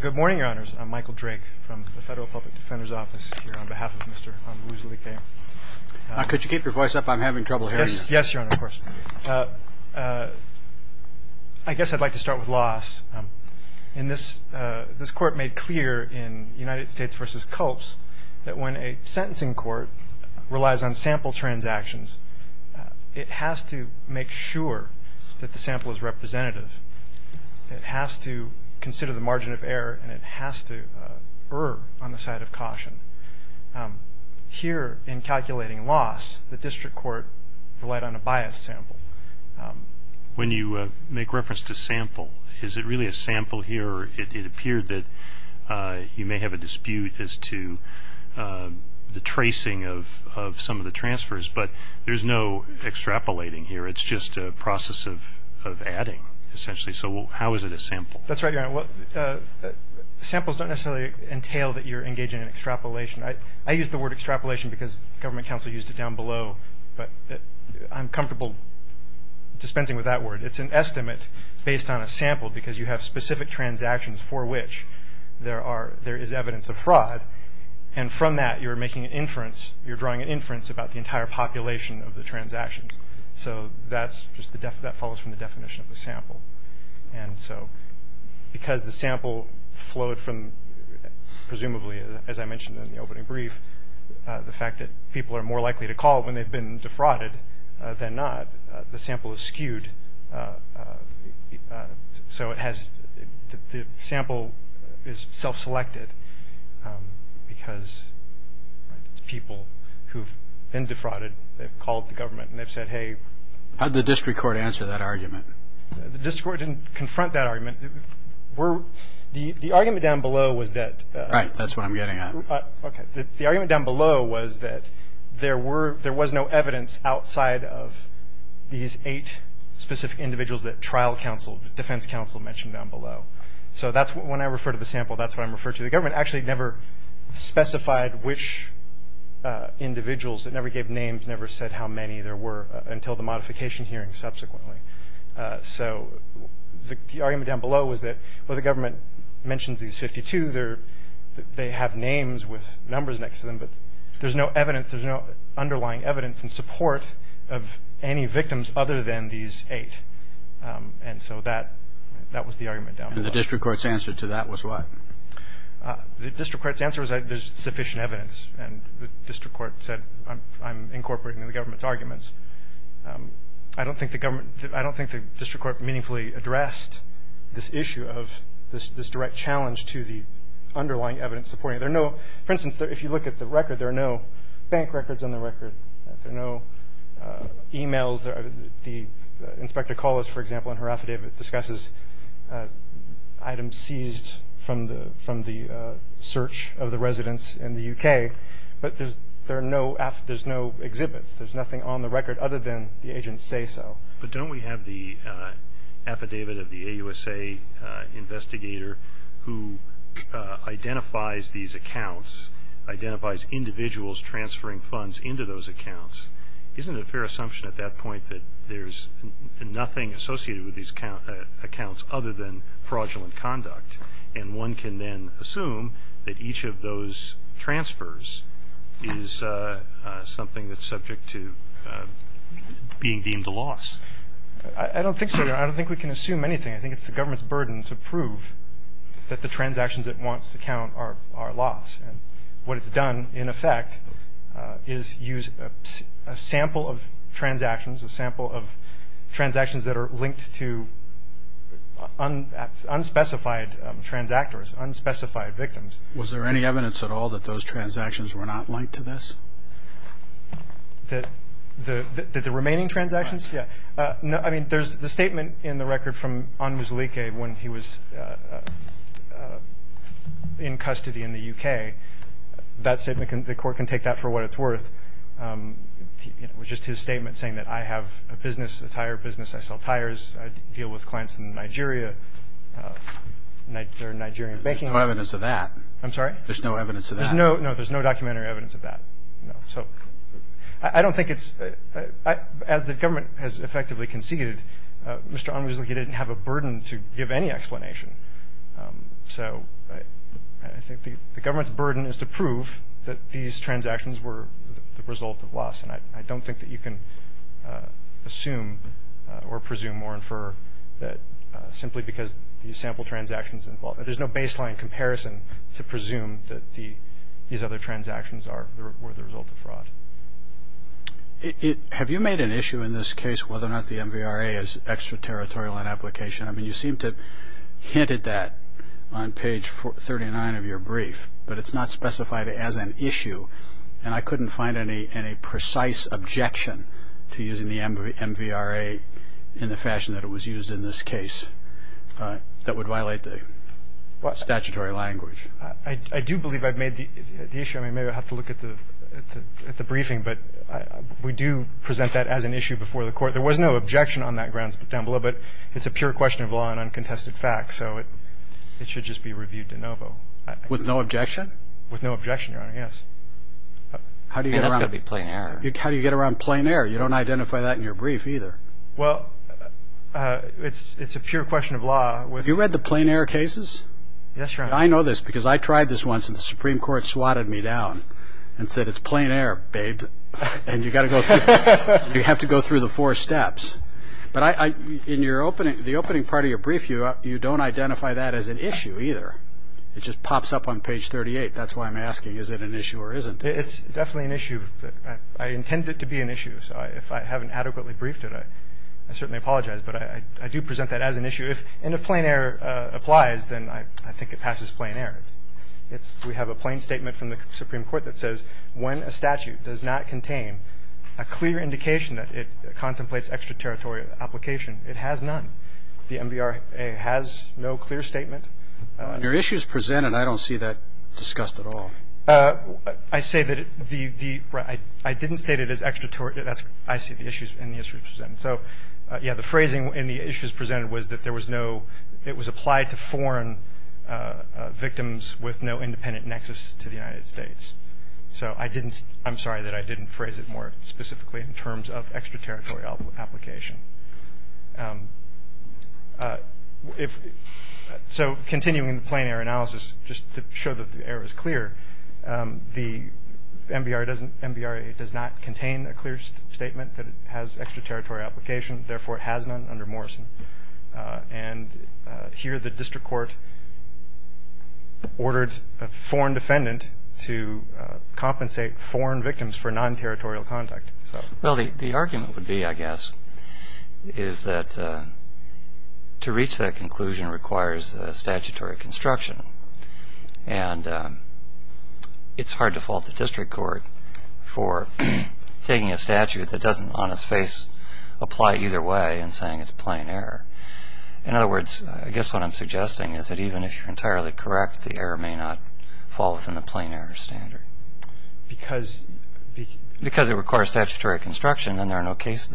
Good morning, Your Honors. I'm Michael Drake from the Federal Public Defender's Office here on behalf of Mr. Onwuzulike. Could you keep your voice up? I'm having trouble hearing you. Yes, Your Honor, of course. I guess I'd like to start with laws. This Court made clear in United States v. Culp's that when a sentencing court relies on sample transactions, it has to make sure that the sample is representative. It has to consider the margin of error, and it has to err on the side of caution. Here, in calculating loss, the district court relied on a biased sample. When you make reference to sample, is it really a sample here? It appeared that you may have a dispute as to the tracing of some of the transfers, but there's no extrapolating here. It's just a process of adding, essentially, so how is it a sample? That's right, Your Honor. Samples don't necessarily entail that you're engaging in extrapolation. I use the word extrapolation because government counsel used it down below, but I'm comfortable dispensing with that word. It's an estimate based on a sample because you have specific transactions for which there is evidence of fraud, and from that you're drawing an inference about the entire population of the transactions. So that follows from the definition of the sample. And so because the sample flowed from, presumably, as I mentioned in the opening brief, the fact that people are more likely to call when they've been defrauded than not, the sample is skewed. So the sample is self-selected because it's people who've been defrauded. They've called the government and they've said, hey. How did the district court answer that argument? The district court didn't confront that argument. The argument down below was that. Right, that's what I'm getting at. Okay. The argument down below was that there was no evidence outside of these eight specific individuals that trial counsel, defense counsel mentioned down below. So when I refer to the sample, that's what I'm referring to. The government actually never specified which individuals. It never gave names. It never said how many there were until the modification hearing subsequently. So the argument down below was that, well, the government mentions these 52. They have names with numbers next to them, but there's no evidence. There's no underlying evidence in support of any victims other than these eight. And so that was the argument down below. And the district court's answer to that was what? The district court's answer was there's sufficient evidence, and the district court said I'm incorporating the government's arguments. I don't think the district court meaningfully addressed this issue of this direct challenge to the underlying evidence. For instance, if you look at the record, there are no bank records on the record. There are no e-mails. Inspector Collis, for example, in her affidavit, discusses items seized from the search of the residents in the U.K. But there's no exhibits. There's nothing on the record other than the agents say so. But don't we have the affidavit of the AUSA investigator who identifies these accounts, identifies individuals transferring funds into those accounts? Isn't it a fair assumption at that point that there's nothing associated with these accounts other than fraudulent conduct, and one can then assume that each of those transfers is something that's subject to being deemed a loss? I don't think so, Your Honor. I don't think we can assume anything. I think it's the government's burden to prove that the transactions it wants to count are lost. And what it's done, in effect, is use a sample of transactions, a sample of transactions that are linked to unspecified transactors, unspecified victims. Was there any evidence at all that those transactions were not linked to this? The remaining transactions? Yeah. No. I mean, there's the statement in the record from Anmuzileke when he was in custody in the U.K. That statement, the court can take that for what it's worth. It was just his statement saying that I have a business, a tire business. I sell tires. I deal with clients in Nigeria. They're Nigerian banking. There's no evidence of that. I'm sorry? There's no evidence of that. No, there's no documentary evidence of that. No. So I don't think it's – as the government has effectively conceded, Mr. Anmuzileke didn't have a burden to give any explanation. So I think the government's burden is to prove that these transactions were the result of loss. And I don't think that you can assume or presume or infer that simply because these sample transactions involve – there's no baseline comparison to presume that these other transactions were the result of fraud. Have you made an issue in this case whether or not the MVRA is extraterritorial in application? I mean, you seem to have hinted that on page 39 of your brief, but it's not specified as an issue. And I couldn't find any precise objection to using the MVRA in the fashion that it was used in this case that would violate the statutory language. I do believe I've made the issue. I mean, maybe I'll have to look at the briefing, but we do present that as an issue before the court. There was no objection on that grounds down below, but it's a pure question of law and uncontested fact. So it should just be reviewed de novo. With no objection? With no objection, Your Honor, yes. I mean, that's got to be plain error. How do you get around plain error? You don't identify that in your brief either. Well, it's a pure question of law. Have you read the plain error cases? Yes, Your Honor. I know this because I tried this once and the Supreme Court swatted me down and said, it's plain error, babe, and you have to go through the four steps. But in the opening part of your brief, you don't identify that as an issue either. It just pops up on page 38. That's why I'm asking, is it an issue or isn't it? It's definitely an issue. I intend it to be an issue. So if I haven't adequately briefed it, I certainly apologize. But I do present that as an issue. And if plain error applies, then I think it passes plain error. We have a plain statement from the Supreme Court that says when a statute does not contain a clear indication that it contemplates extraterritorial application, it has none. The MVRA has no clear statement. Under issues presented, I don't see that discussed at all. I didn't state it as extraterritorial. I see the issues in the issues presented. So, yeah, the phrasing in the issues presented was that it was applied to foreign victims with no independent nexus to the United States. So I'm sorry that I didn't phrase it more specifically in terms of extraterritorial application. So continuing the plain error analysis, just to show that the error is clear, the MVRA does not contain a clear statement that it has extraterritorial application, therefore it has none under Morrison. And here the district court ordered a foreign defendant to compensate foreign victims for non-territorial contact. Well, the argument would be, I guess, is that to reach that conclusion requires statutory construction. And it's hard to fault the district court for taking a statute that doesn't on its face apply either way and saying it's plain error. In other words, I guess what I'm suggesting is that even if you're entirely correct, the error may not fall within the plain error standard. Because it requires statutory construction and there's no case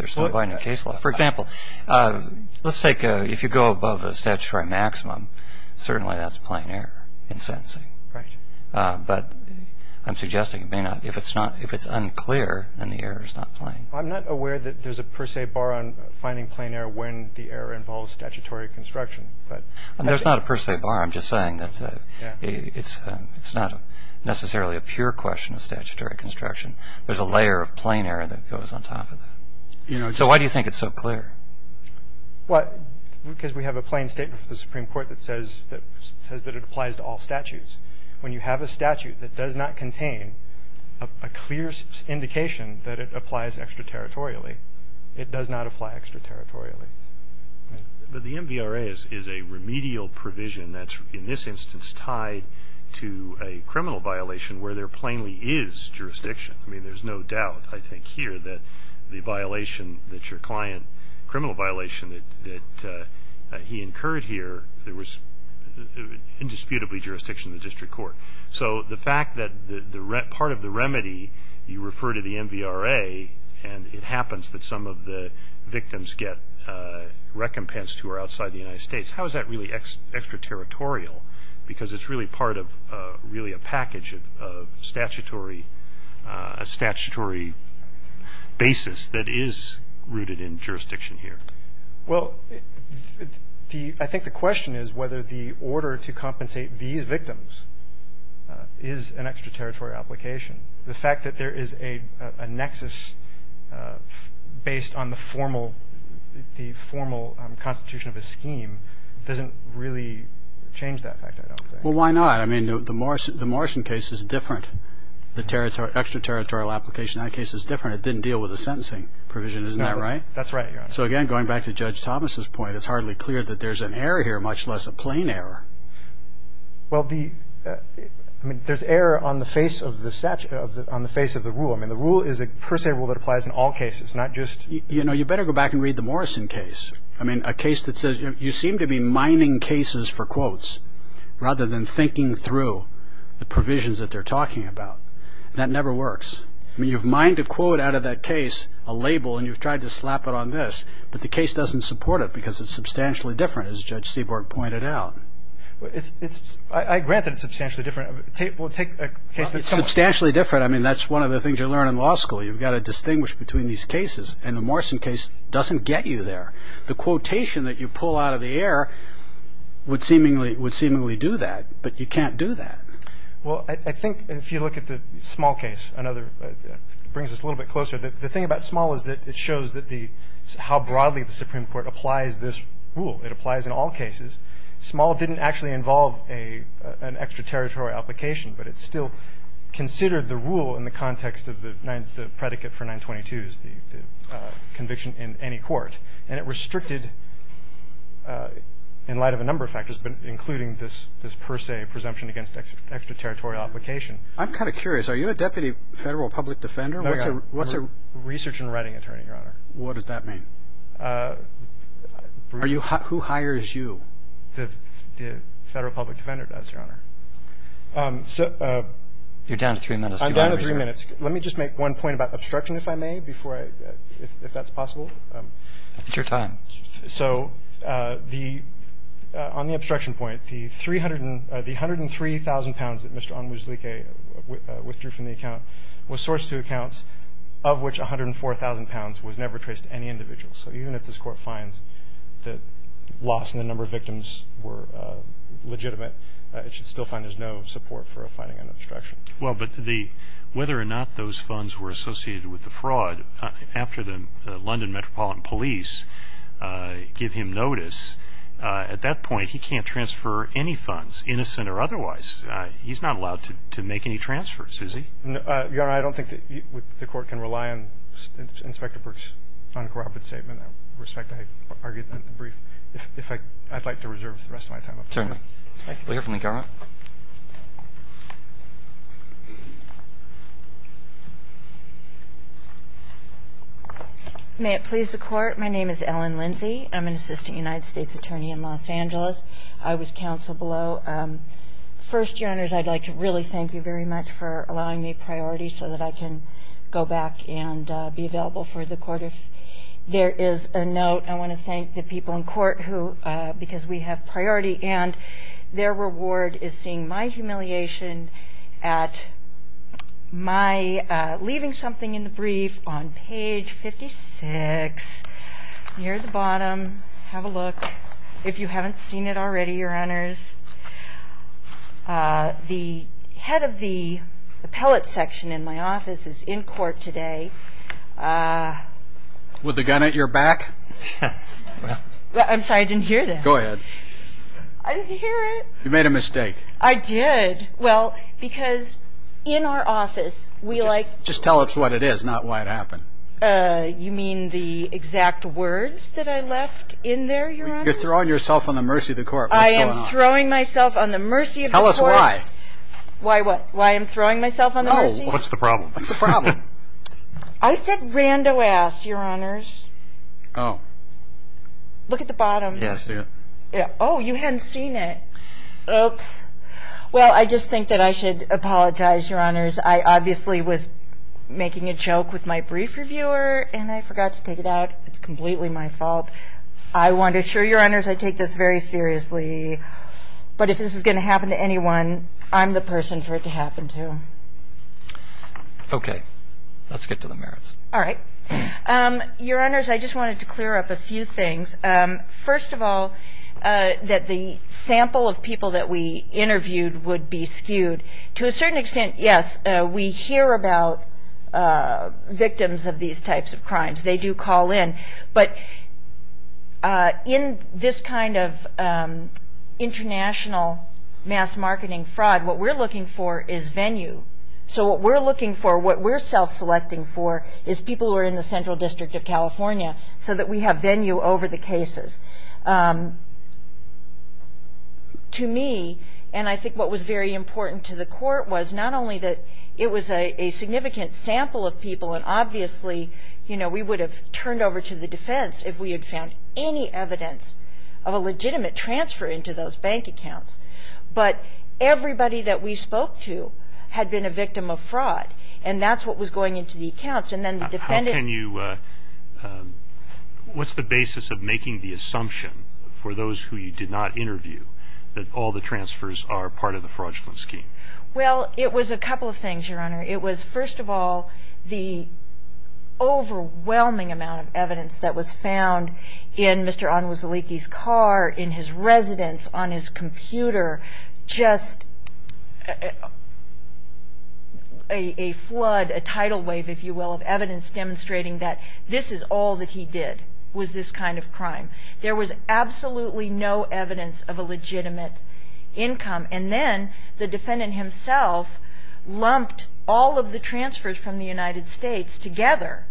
law. For example, let's take, if you go above a statutory maximum, certainly that's plain error in sentencing. Right. But I'm suggesting it may not. If it's unclear, then the error is not plain. I'm not aware that there's a per se bar on finding plain error when the error involves statutory construction. There's not a per se bar. I'm just saying that it's not necessarily a pure question of statutory construction. There's a layer of plain error that goes on top of that. So why do you think it's so clear? Because we have a plain statement from the Supreme Court that says that it applies to all statutes. When you have a statute that does not contain a clear indication that it applies extraterritorially, it does not apply extraterritorially. But the MVRA is a remedial provision that's, in this instance, tied to a criminal violation where there plainly is jurisdiction. I mean, there's no doubt, I think, here that the violation that your client, criminal violation that he incurred here, there was indisputably jurisdiction in the district court. So the fact that part of the remedy, you refer to the MVRA, and it happens that some of the victims get recompensed who are outside the United States, how is that really extraterritorial? Because it's really part of really a package of statutory basis that is rooted in jurisdiction here. Well, I think the question is whether the order to compensate these victims is an extraterritorial application. The fact that there is a nexus based on the formal constitution of a scheme doesn't really change that fact, I don't think. Well, why not? I mean, the Morrison case is different. The extraterritorial application in that case is different. It didn't deal with a sentencing provision. Isn't that right? That's right, Your Honor. So, again, going back to Judge Thomas' point, it's hardly clear that there's an error here, much less a plain error. Well, I mean, there's error on the face of the rule. I mean, the rule is a per se rule that applies in all cases, not just – You know, you better go back and read the Morrison case. I mean, a case that says you seem to be mining cases for quotes rather than thinking through the provisions that they're talking about. That never works. I mean, you've mined a quote out of that case, a label, and you've tried to slap it on this, but the case doesn't support it because it's substantially different, as Judge Seaborg pointed out. I grant that it's substantially different. Take a case that's similar. It's substantially different. I mean, that's one of the things you learn in law school. You've got to distinguish between these cases, and the Morrison case doesn't get you there. The quotation that you pull out of the air would seemingly do that, but you can't do that. Well, I think if you look at the Small case, it brings us a little bit closer. The thing about Small is that it shows how broadly the Supreme Court applies this rule. It applies in all cases. Small didn't actually involve an extraterritorial application, but it still considered the rule in the context of the predicate for 922s, the conviction in any court. And it restricted, in light of a number of factors, but including this per se presumption against extraterritorial application. I'm kind of curious. Are you a deputy federal public defender? What's a research and writing attorney, Your Honor? What does that mean? Who hires you? The federal public defender does, Your Honor. You're down to three minutes. I'm down to three minutes. Let me just make one point about obstruction, if I may, if that's possible. It's your time. So on the obstruction point, the 103,000 pounds that Mr. Onwuzlike withdrew from the account was sourced to accounts of which 104,000 pounds was never traced to any individual. So even if this Court finds that loss in the number of victims were legitimate, it should still find there's no support for a finding on obstruction. Well, but whether or not those funds were associated with the fraud, after the London Metropolitan Police give him notice, at that point he can't transfer any funds, innocent or otherwise. He's not allowed to make any transfers, is he? Your Honor, I don't think the Court can rely on Inspector Burke's uncorrupted statement. With respect, I'd like to reserve the rest of my time. Thank you. We'll hear from the camera. May it please the Court. My name is Ellen Lindsey. I'm an assistant United States attorney in Los Angeles. I was counsel below. First, Your Honors, I'd like to really thank you very much for allowing me priority so that I can go back and be available for the Court. If there is a note, I want to thank the people in court who, because we have priority and their reward is seeing my humiliation at my leaving something in the brief on page 56, near the bottom. Have a look. If you haven't seen it already, Your Honors, the head of the appellate section in my office is in court today. With a gun at your back? I'm sorry. I didn't hear that. Go ahead. I didn't hear it. You made a mistake. I did. Well, because in our office, we like to. Just tell us what it is, not why it happened. You mean the exact words that I left in there, Your Honor? You're throwing yourself on the mercy of the Court. What's going on? I am throwing myself on the mercy of the Court. Tell us why. Why what? Why I'm throwing myself on the mercy? What's the problem? What's the problem? I said rando ass, Your Honors. Oh. Look at the bottom. Yes. Oh, you hadn't seen it. Oops. Well, I just think that I should apologize, Your Honors. I obviously was making a joke with my brief reviewer, and I forgot to take it out. It's completely my fault. I want to assure Your Honors I take this very seriously. But if this is going to happen to anyone, I'm the person for it to happen to. Okay. Let's get to the merits. All right. Your Honors, I just wanted to clear up a few things. First of all, that the sample of people that we interviewed would be skewed. To a certain extent, yes, we hear about victims of these types of crimes. They do call in. But in this kind of international mass marketing fraud, what we're looking for is venue. So what we're looking for, what we're self-selecting for, is people who are in the Central District of California so that we have venue over the cases. To me, and I think what was very important to the court, was not only that it was a significant sample of people, and obviously we would have turned over to the defense if we had found any evidence of a legitimate transfer into those bank accounts. But everybody that we spoke to had been a victim of fraud, and that's what was going into the accounts. What's the basis of making the assumption for those who you did not interview that all the transfers are part of the fraudulent scheme? Well, it was a couple of things, Your Honor. It was, first of all, the overwhelming amount of evidence that was found in Mr. Onwuzaliki's car, in his residence, on his computer, just a flood, a tidal wave, if you will, of evidence demonstrating that this is all that he did was this kind of crime. There was absolutely no evidence of a legitimate income. And then the defendant himself lumped all of the transfers from the United States together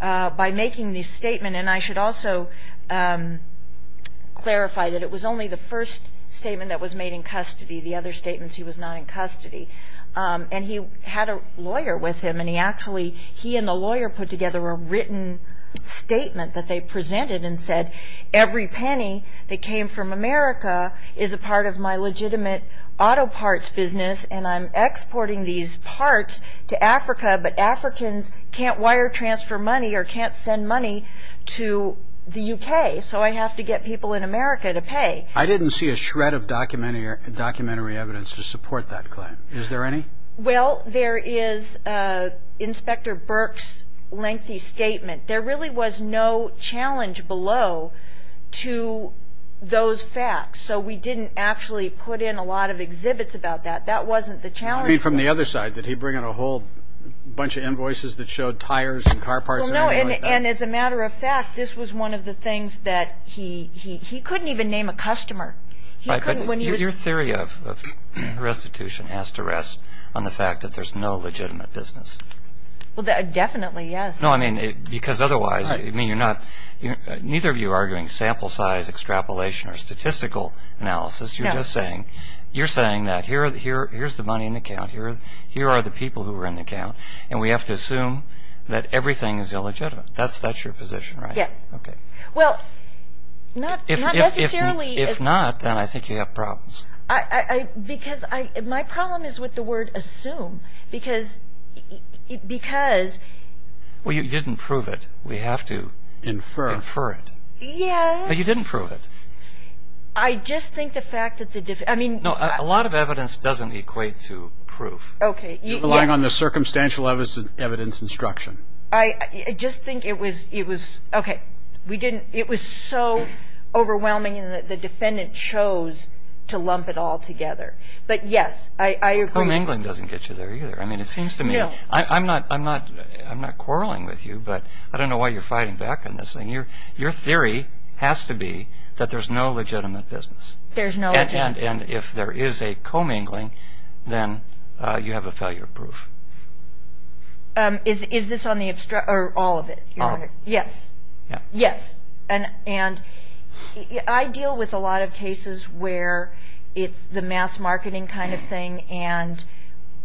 by making this statement. And I should also clarify that it was only the first statement that was made in custody, the other statements he was not in custody. And he had a lawyer with him, and he actually, he and the lawyer put together a written statement that they presented and said, every penny that came from America is a part of my legitimate auto parts business, and I'm exporting these parts to Africa, but Africans can't wire transfer money or can't send money to the U.K., so I have to get people in America to pay. I didn't see a shred of documentary evidence to support that claim. Is there any? Well, there is Inspector Burke's lengthy statement. There really was no challenge below to those facts, so we didn't actually put in a lot of exhibits about that. That wasn't the challenge. I mean, from the other side, did he bring in a whole bunch of invoices that showed tires and car parts? Well, no, and as a matter of fact, this was one of the things that he couldn't even name a customer. Right, but your theory of restitution has to rest on the fact that there's no legitimate business. Well, definitely, yes. No, I mean, because otherwise, I mean, you're not, neither of you are arguing sample size, extrapolation, or statistical analysis. You're just saying that here's the money in the account, here are the people who are in the account, and we have to assume that everything is illegitimate. That's your position, right? Yes. Okay. Well, not necessarily. If not, then I think you have problems. Because my problem is with the word assume, because... Well, you didn't prove it. We have to infer it. Yes. But you didn't prove it. I just think the fact that the... No, a lot of evidence doesn't equate to proof. Okay. Relying on the circumstantial evidence instruction. I just think it was... Okay. We didn't... It was so overwhelming that the defendant chose to lump it all together. But, yes, I agree. Commingling doesn't get you there either. I mean, it seems to me... No. I'm not quarreling with you, but I don't know why you're fighting back on this thing. Your theory has to be that there's no legitimate business. There's no... And if there is a commingling, then you have a failure of proof. Is this on the abstract or all of it? Yes. Yes. And I deal with a lot of cases where it's the mass marketing kind of thing and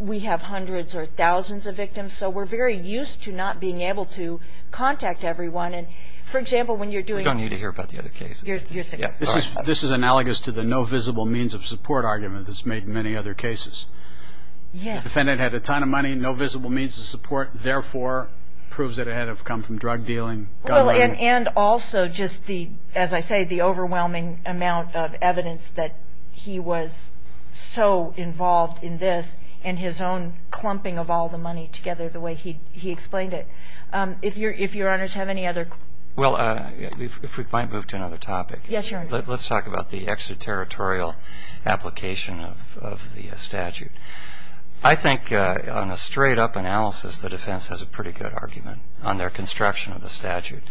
we have hundreds or thousands of victims, so we're very used to not being able to contact everyone. And, for example, when you're doing... We don't need to hear about the other cases. You're... This is analogous to the no visible means of support argument that's made in many other cases. Yes. The defendant had a ton of money, no visible means of support, therefore proves that it had to have come from drug dealing. Well, and also just the, as I say, the overwhelming amount of evidence that he was so involved in this and his own clumping of all the money together the way he explained it. If Your Honors have any other... Well, if we might move to another topic. Yes, Your Honor. Let's talk about the extraterritorial application of the statute. I think on a straight-up analysis, the defense has a pretty good argument on their construction of the statute.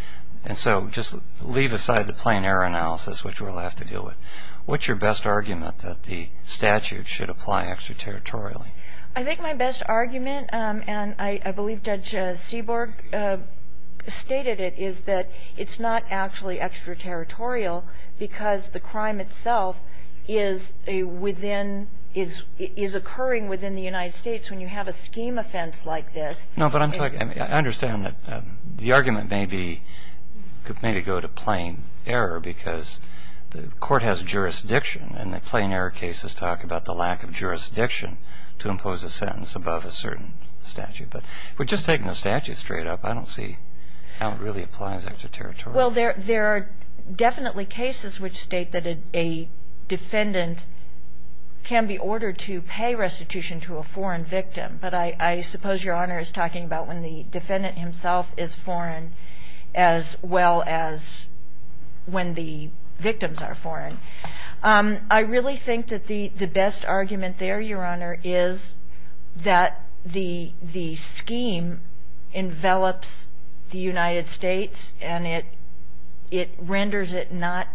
And so just leave aside the plain error analysis, which we'll have to deal with. What's your best argument that the statute should apply extraterritorially? I think my best argument, and I believe Judge Seaborg stated it, is that it's not actually extraterritorial because the crime itself is a within, is occurring within the United States when you have a scheme offense like this. No, but I'm talking... I mean, I understand that the argument may be, could maybe go to plain error because the court has jurisdiction and the plain error cases talk about the lack of jurisdiction to impose a sentence above a certain statute. But if we're just taking the statute straight up, I don't see how it really applies extraterritorially. Well, there are definitely cases which state that a defendant can be ordered to pay restitution to a foreign victim. But I suppose Your Honor is talking about when the defendant himself is foreign as well as when the victims are foreign. I really think that the best argument there, Your Honor, is that the scheme envelops the United States and it renders it not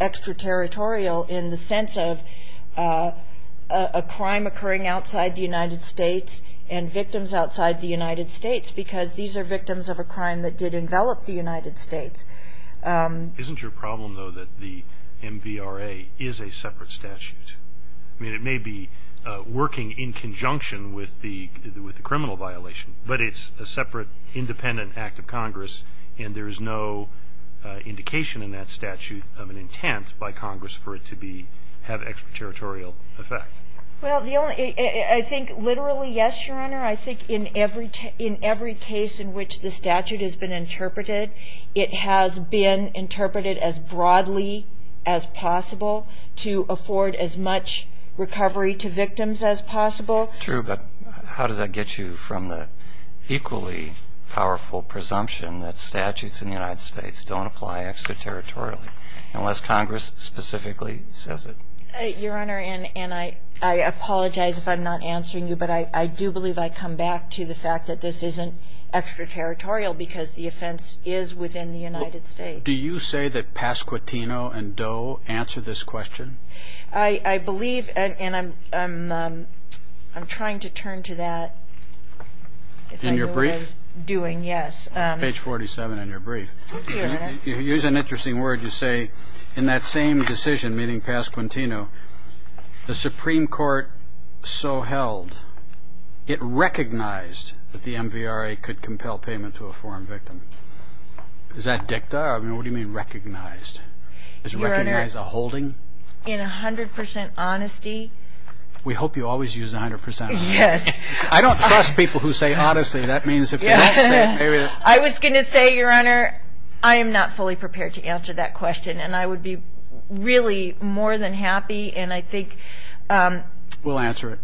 extraterritorial in the sense of a crime occurring outside the United States and victims outside the United States because these are victims of a crime that did envelop the United States. Isn't your problem, though, that the MVRA is a separate statute? I mean, it may be working in conjunction with the criminal violation, but it's a separate independent act of Congress and there is no indication in that statute of an intent by Congress for it to have an extraterritorial effect. Well, I think literally, yes, Your Honor. I think in every case in which the statute has been interpreted, it has been interpreted as broadly as possible to afford as much recovery to victims as possible. True, but how does that get you from the equally powerful presumption that statutes in the United States don't apply extraterritorially unless Congress specifically says it? Your Honor, and I apologize if I'm not answering you, but I do believe I come back to the fact that this isn't extraterritorial because the offense is within the United States. Do you say that Pasquitino and Doe answer this question? I believe, and I'm trying to turn to that. In your brief? Doing, yes. Page 47 in your brief. Here's an interesting word. You say in that same decision meeting Pasquitino, the Supreme Court so held it recognized that the MVRA could compel payment to a foreign victim. Is that dicta? I mean, what do you mean recognized? Does it recognize a holding? In 100% honesty. We hope you always use 100%. Yes. I don't trust people who say honestly. That means if they don't say it, maybe they're. I was going to say, Your Honor, I am not fully prepared to answer that question, and I would be really more than happy, and I think. We'll answer it.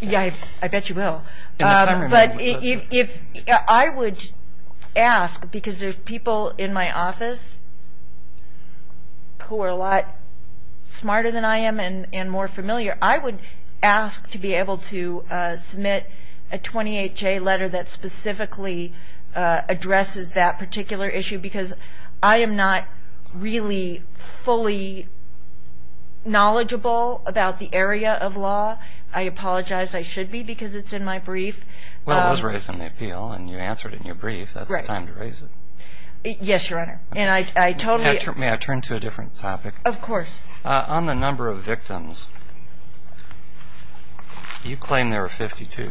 Yeah, I bet you will. In the time remaining. I would ask, because there's people in my office who are a lot smarter than I am and more familiar, I would ask to be able to submit a 28-J letter that specifically addresses that particular issue, because I am not really fully knowledgeable about the area of law. I apologize. I should be, because it's in my brief. Well, it was raised in the appeal, and you answered it in your brief. That's the time to raise it. Yes, Your Honor. And I totally. May I turn to a different topic? Of course. On the number of victims, you claim there are 52,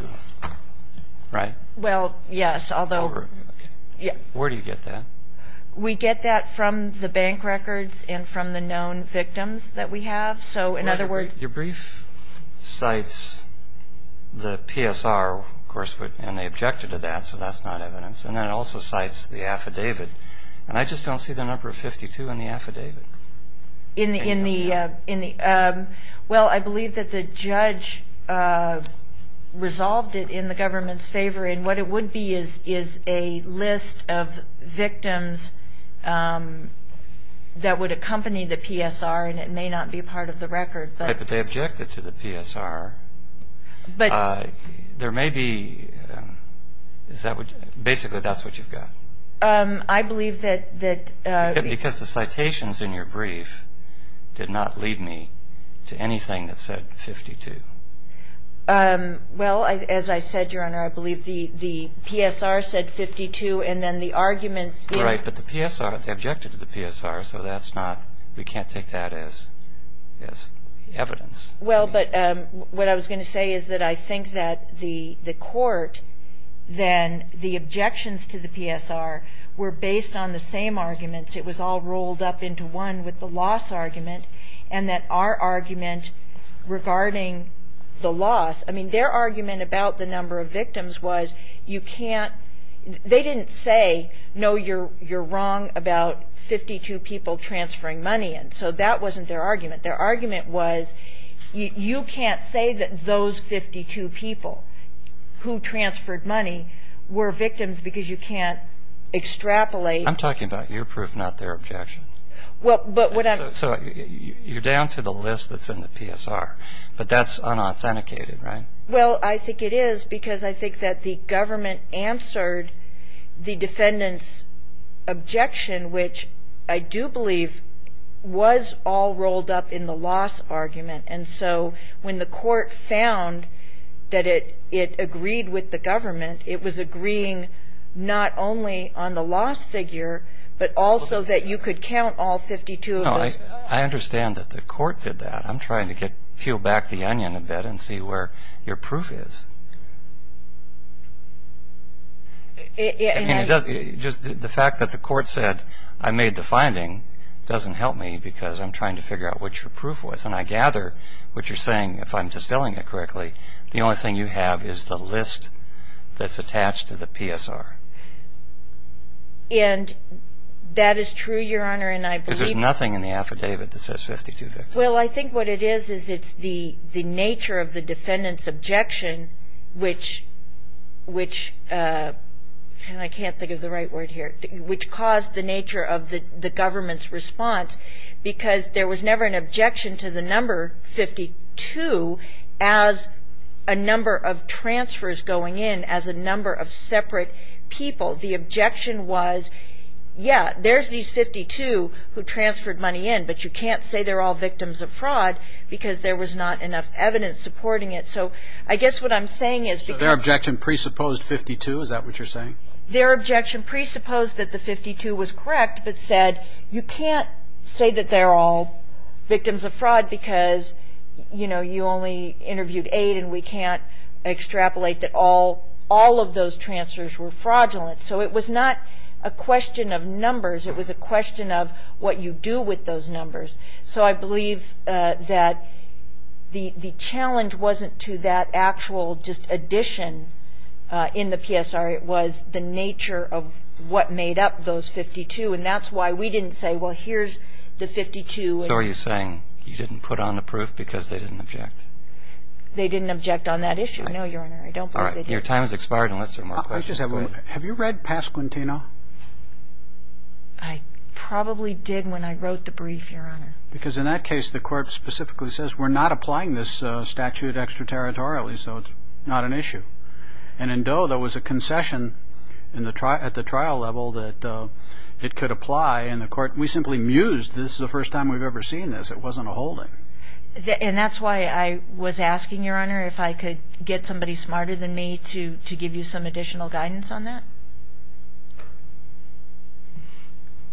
right? Well, yes, although. Where do you get that? We get that from the bank records and from the known victims that we have. Your brief cites the PSR, of course, and they objected to that, so that's not evidence. And then it also cites the affidavit, and I just don't see the number 52 in the affidavit. Well, I believe that the judge resolved it in the government's favor, and what it would be is a list of victims that would accompany the PSR, and it may not be part of the record, but. Right, but they objected to the PSR. There may be, basically, that's what you've got. I believe that. Because the citations in your brief did not lead me to anything that said 52. Well, as I said, Your Honor, I believe the PSR said 52, and then the arguments. Right, but the PSR, they objected to the PSR, so that's not, we can't take that as evidence. Well, but what I was going to say is that I think that the court then, the objections to the PSR were based on the same arguments. It was all rolled up into one with the loss argument, and that our argument regarding the loss, I mean, their argument about the number of victims was you can't, they didn't say, no, you're wrong about 52 people transferring money, and so that wasn't their argument. Their argument was you can't say that those 52 people who transferred money were victims because you can't extrapolate. I'm talking about your proof, not their objection. Well, but what I'm. So you're down to the list that's in the PSR, but that's unauthenticated, right? Well, I think it is because I think that the government answered the defendant's objection, which I do believe was all rolled up in the loss argument. And so when the court found that it agreed with the government, it was agreeing not only on the loss figure, but also that you could count all 52 of those. No, I understand that the court did that. I'm trying to peel back the onion a bit and see where your proof is. Just the fact that the court said, I made the finding, doesn't help me because I'm trying to figure out what your proof was. And I gather what you're saying, if I'm distilling it correctly, the only thing you have is the list that's attached to the PSR. And that is true, Your Honor, and I believe. Because there's nothing in the affidavit that says 52 victims. Well, I think what it is is it's the nature of the defendant's objection, which I can't think of the right word here, which caused the nature of the government's response because there was never an objection to the number 52 as a number of transfers going in, as a number of separate people. The objection was, yeah, there's these 52 who transferred money in, but you can't say they're all victims of fraud because there was not enough evidence supporting it. So I guess what I'm saying is because of the 52, is that what you're saying? Their objection presupposed that the 52 was correct, but said you can't say that they're all victims of fraud because, you know, you only interviewed eight, and we can't extrapolate that all of those transfers were fraudulent. So it was not a question of numbers. It was a question of what you do with those numbers. So I believe that the challenge wasn't to that actual just addition in the PSR. It was the nature of what made up those 52. And that's why we didn't say, well, here's the 52. So are you saying you didn't put on the proof because they didn't object? They didn't object on that issue. No, Your Honor. I don't think they did. All right. Your time has expired unless there are more questions. Have you read Pasquantino? I probably did when I wrote the brief, Your Honor. Because in that case the court specifically says we're not applying this statute extraterritorially, so it's not an issue. And in Doe there was a concession at the trial level that it could apply, and the court we simply mused this is the first time we've ever seen this. It wasn't a holding. And that's why I was asking, Your Honor, if I could get somebody smarter than me to give you some additional guidance on that.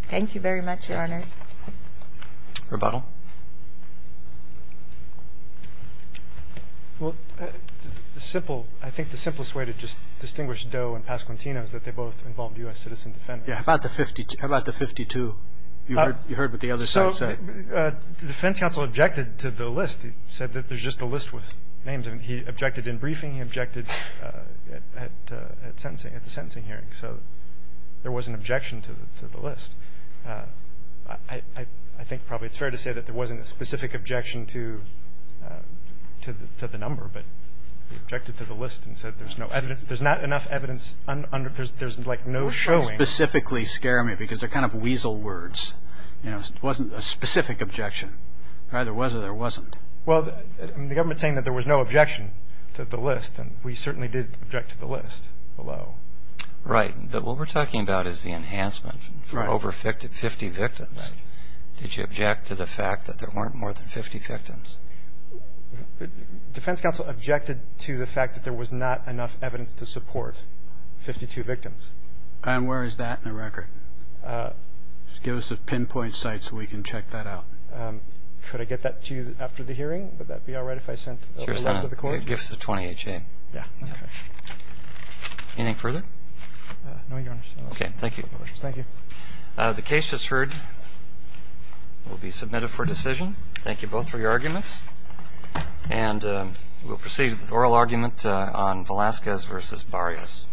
Thank you very much, Your Honor. Rebuttal. Well, I think the simplest way to just distinguish Doe and Pasquantino is that they both involved U.S. citizen defendants. How about the 52? You heard what the other side said. So the defense counsel objected to the list. He said that there's just a list with names. And he objected in briefing. He objected at the sentencing hearing. So there was an objection to the list. I think probably it's fair to say that there wasn't a specific objection to the number, but he objected to the list and said there's no evidence. There's not enough evidence. There's, like, no showing. It doesn't specifically scare me because they're kind of weasel words. It wasn't a specific objection. Either there was or there wasn't. Well, the government's saying that there was no objection to the list, and we certainly did object to the list below. Right. But what we're talking about is the enhancement for over 50 victims. Did you object to the fact that there weren't more than 50 victims? Defense counsel objected to the fact that there was not enough evidence to support 52 victims. And where is that in the record? Give us a pinpoint site so we can check that out. Could I get that to you after the hearing? Would that be all right if I sent a letter to the court? Sure, Senator. Give us the 28 chain. Yeah. Okay. Anything further? No, Your Honor. Okay. Thank you. Thank you. The case just heard will be submitted for decision. Thank you both for your arguments. And we'll proceed with oral argument on Velazquez v. Barrios. Thank you. Thank you.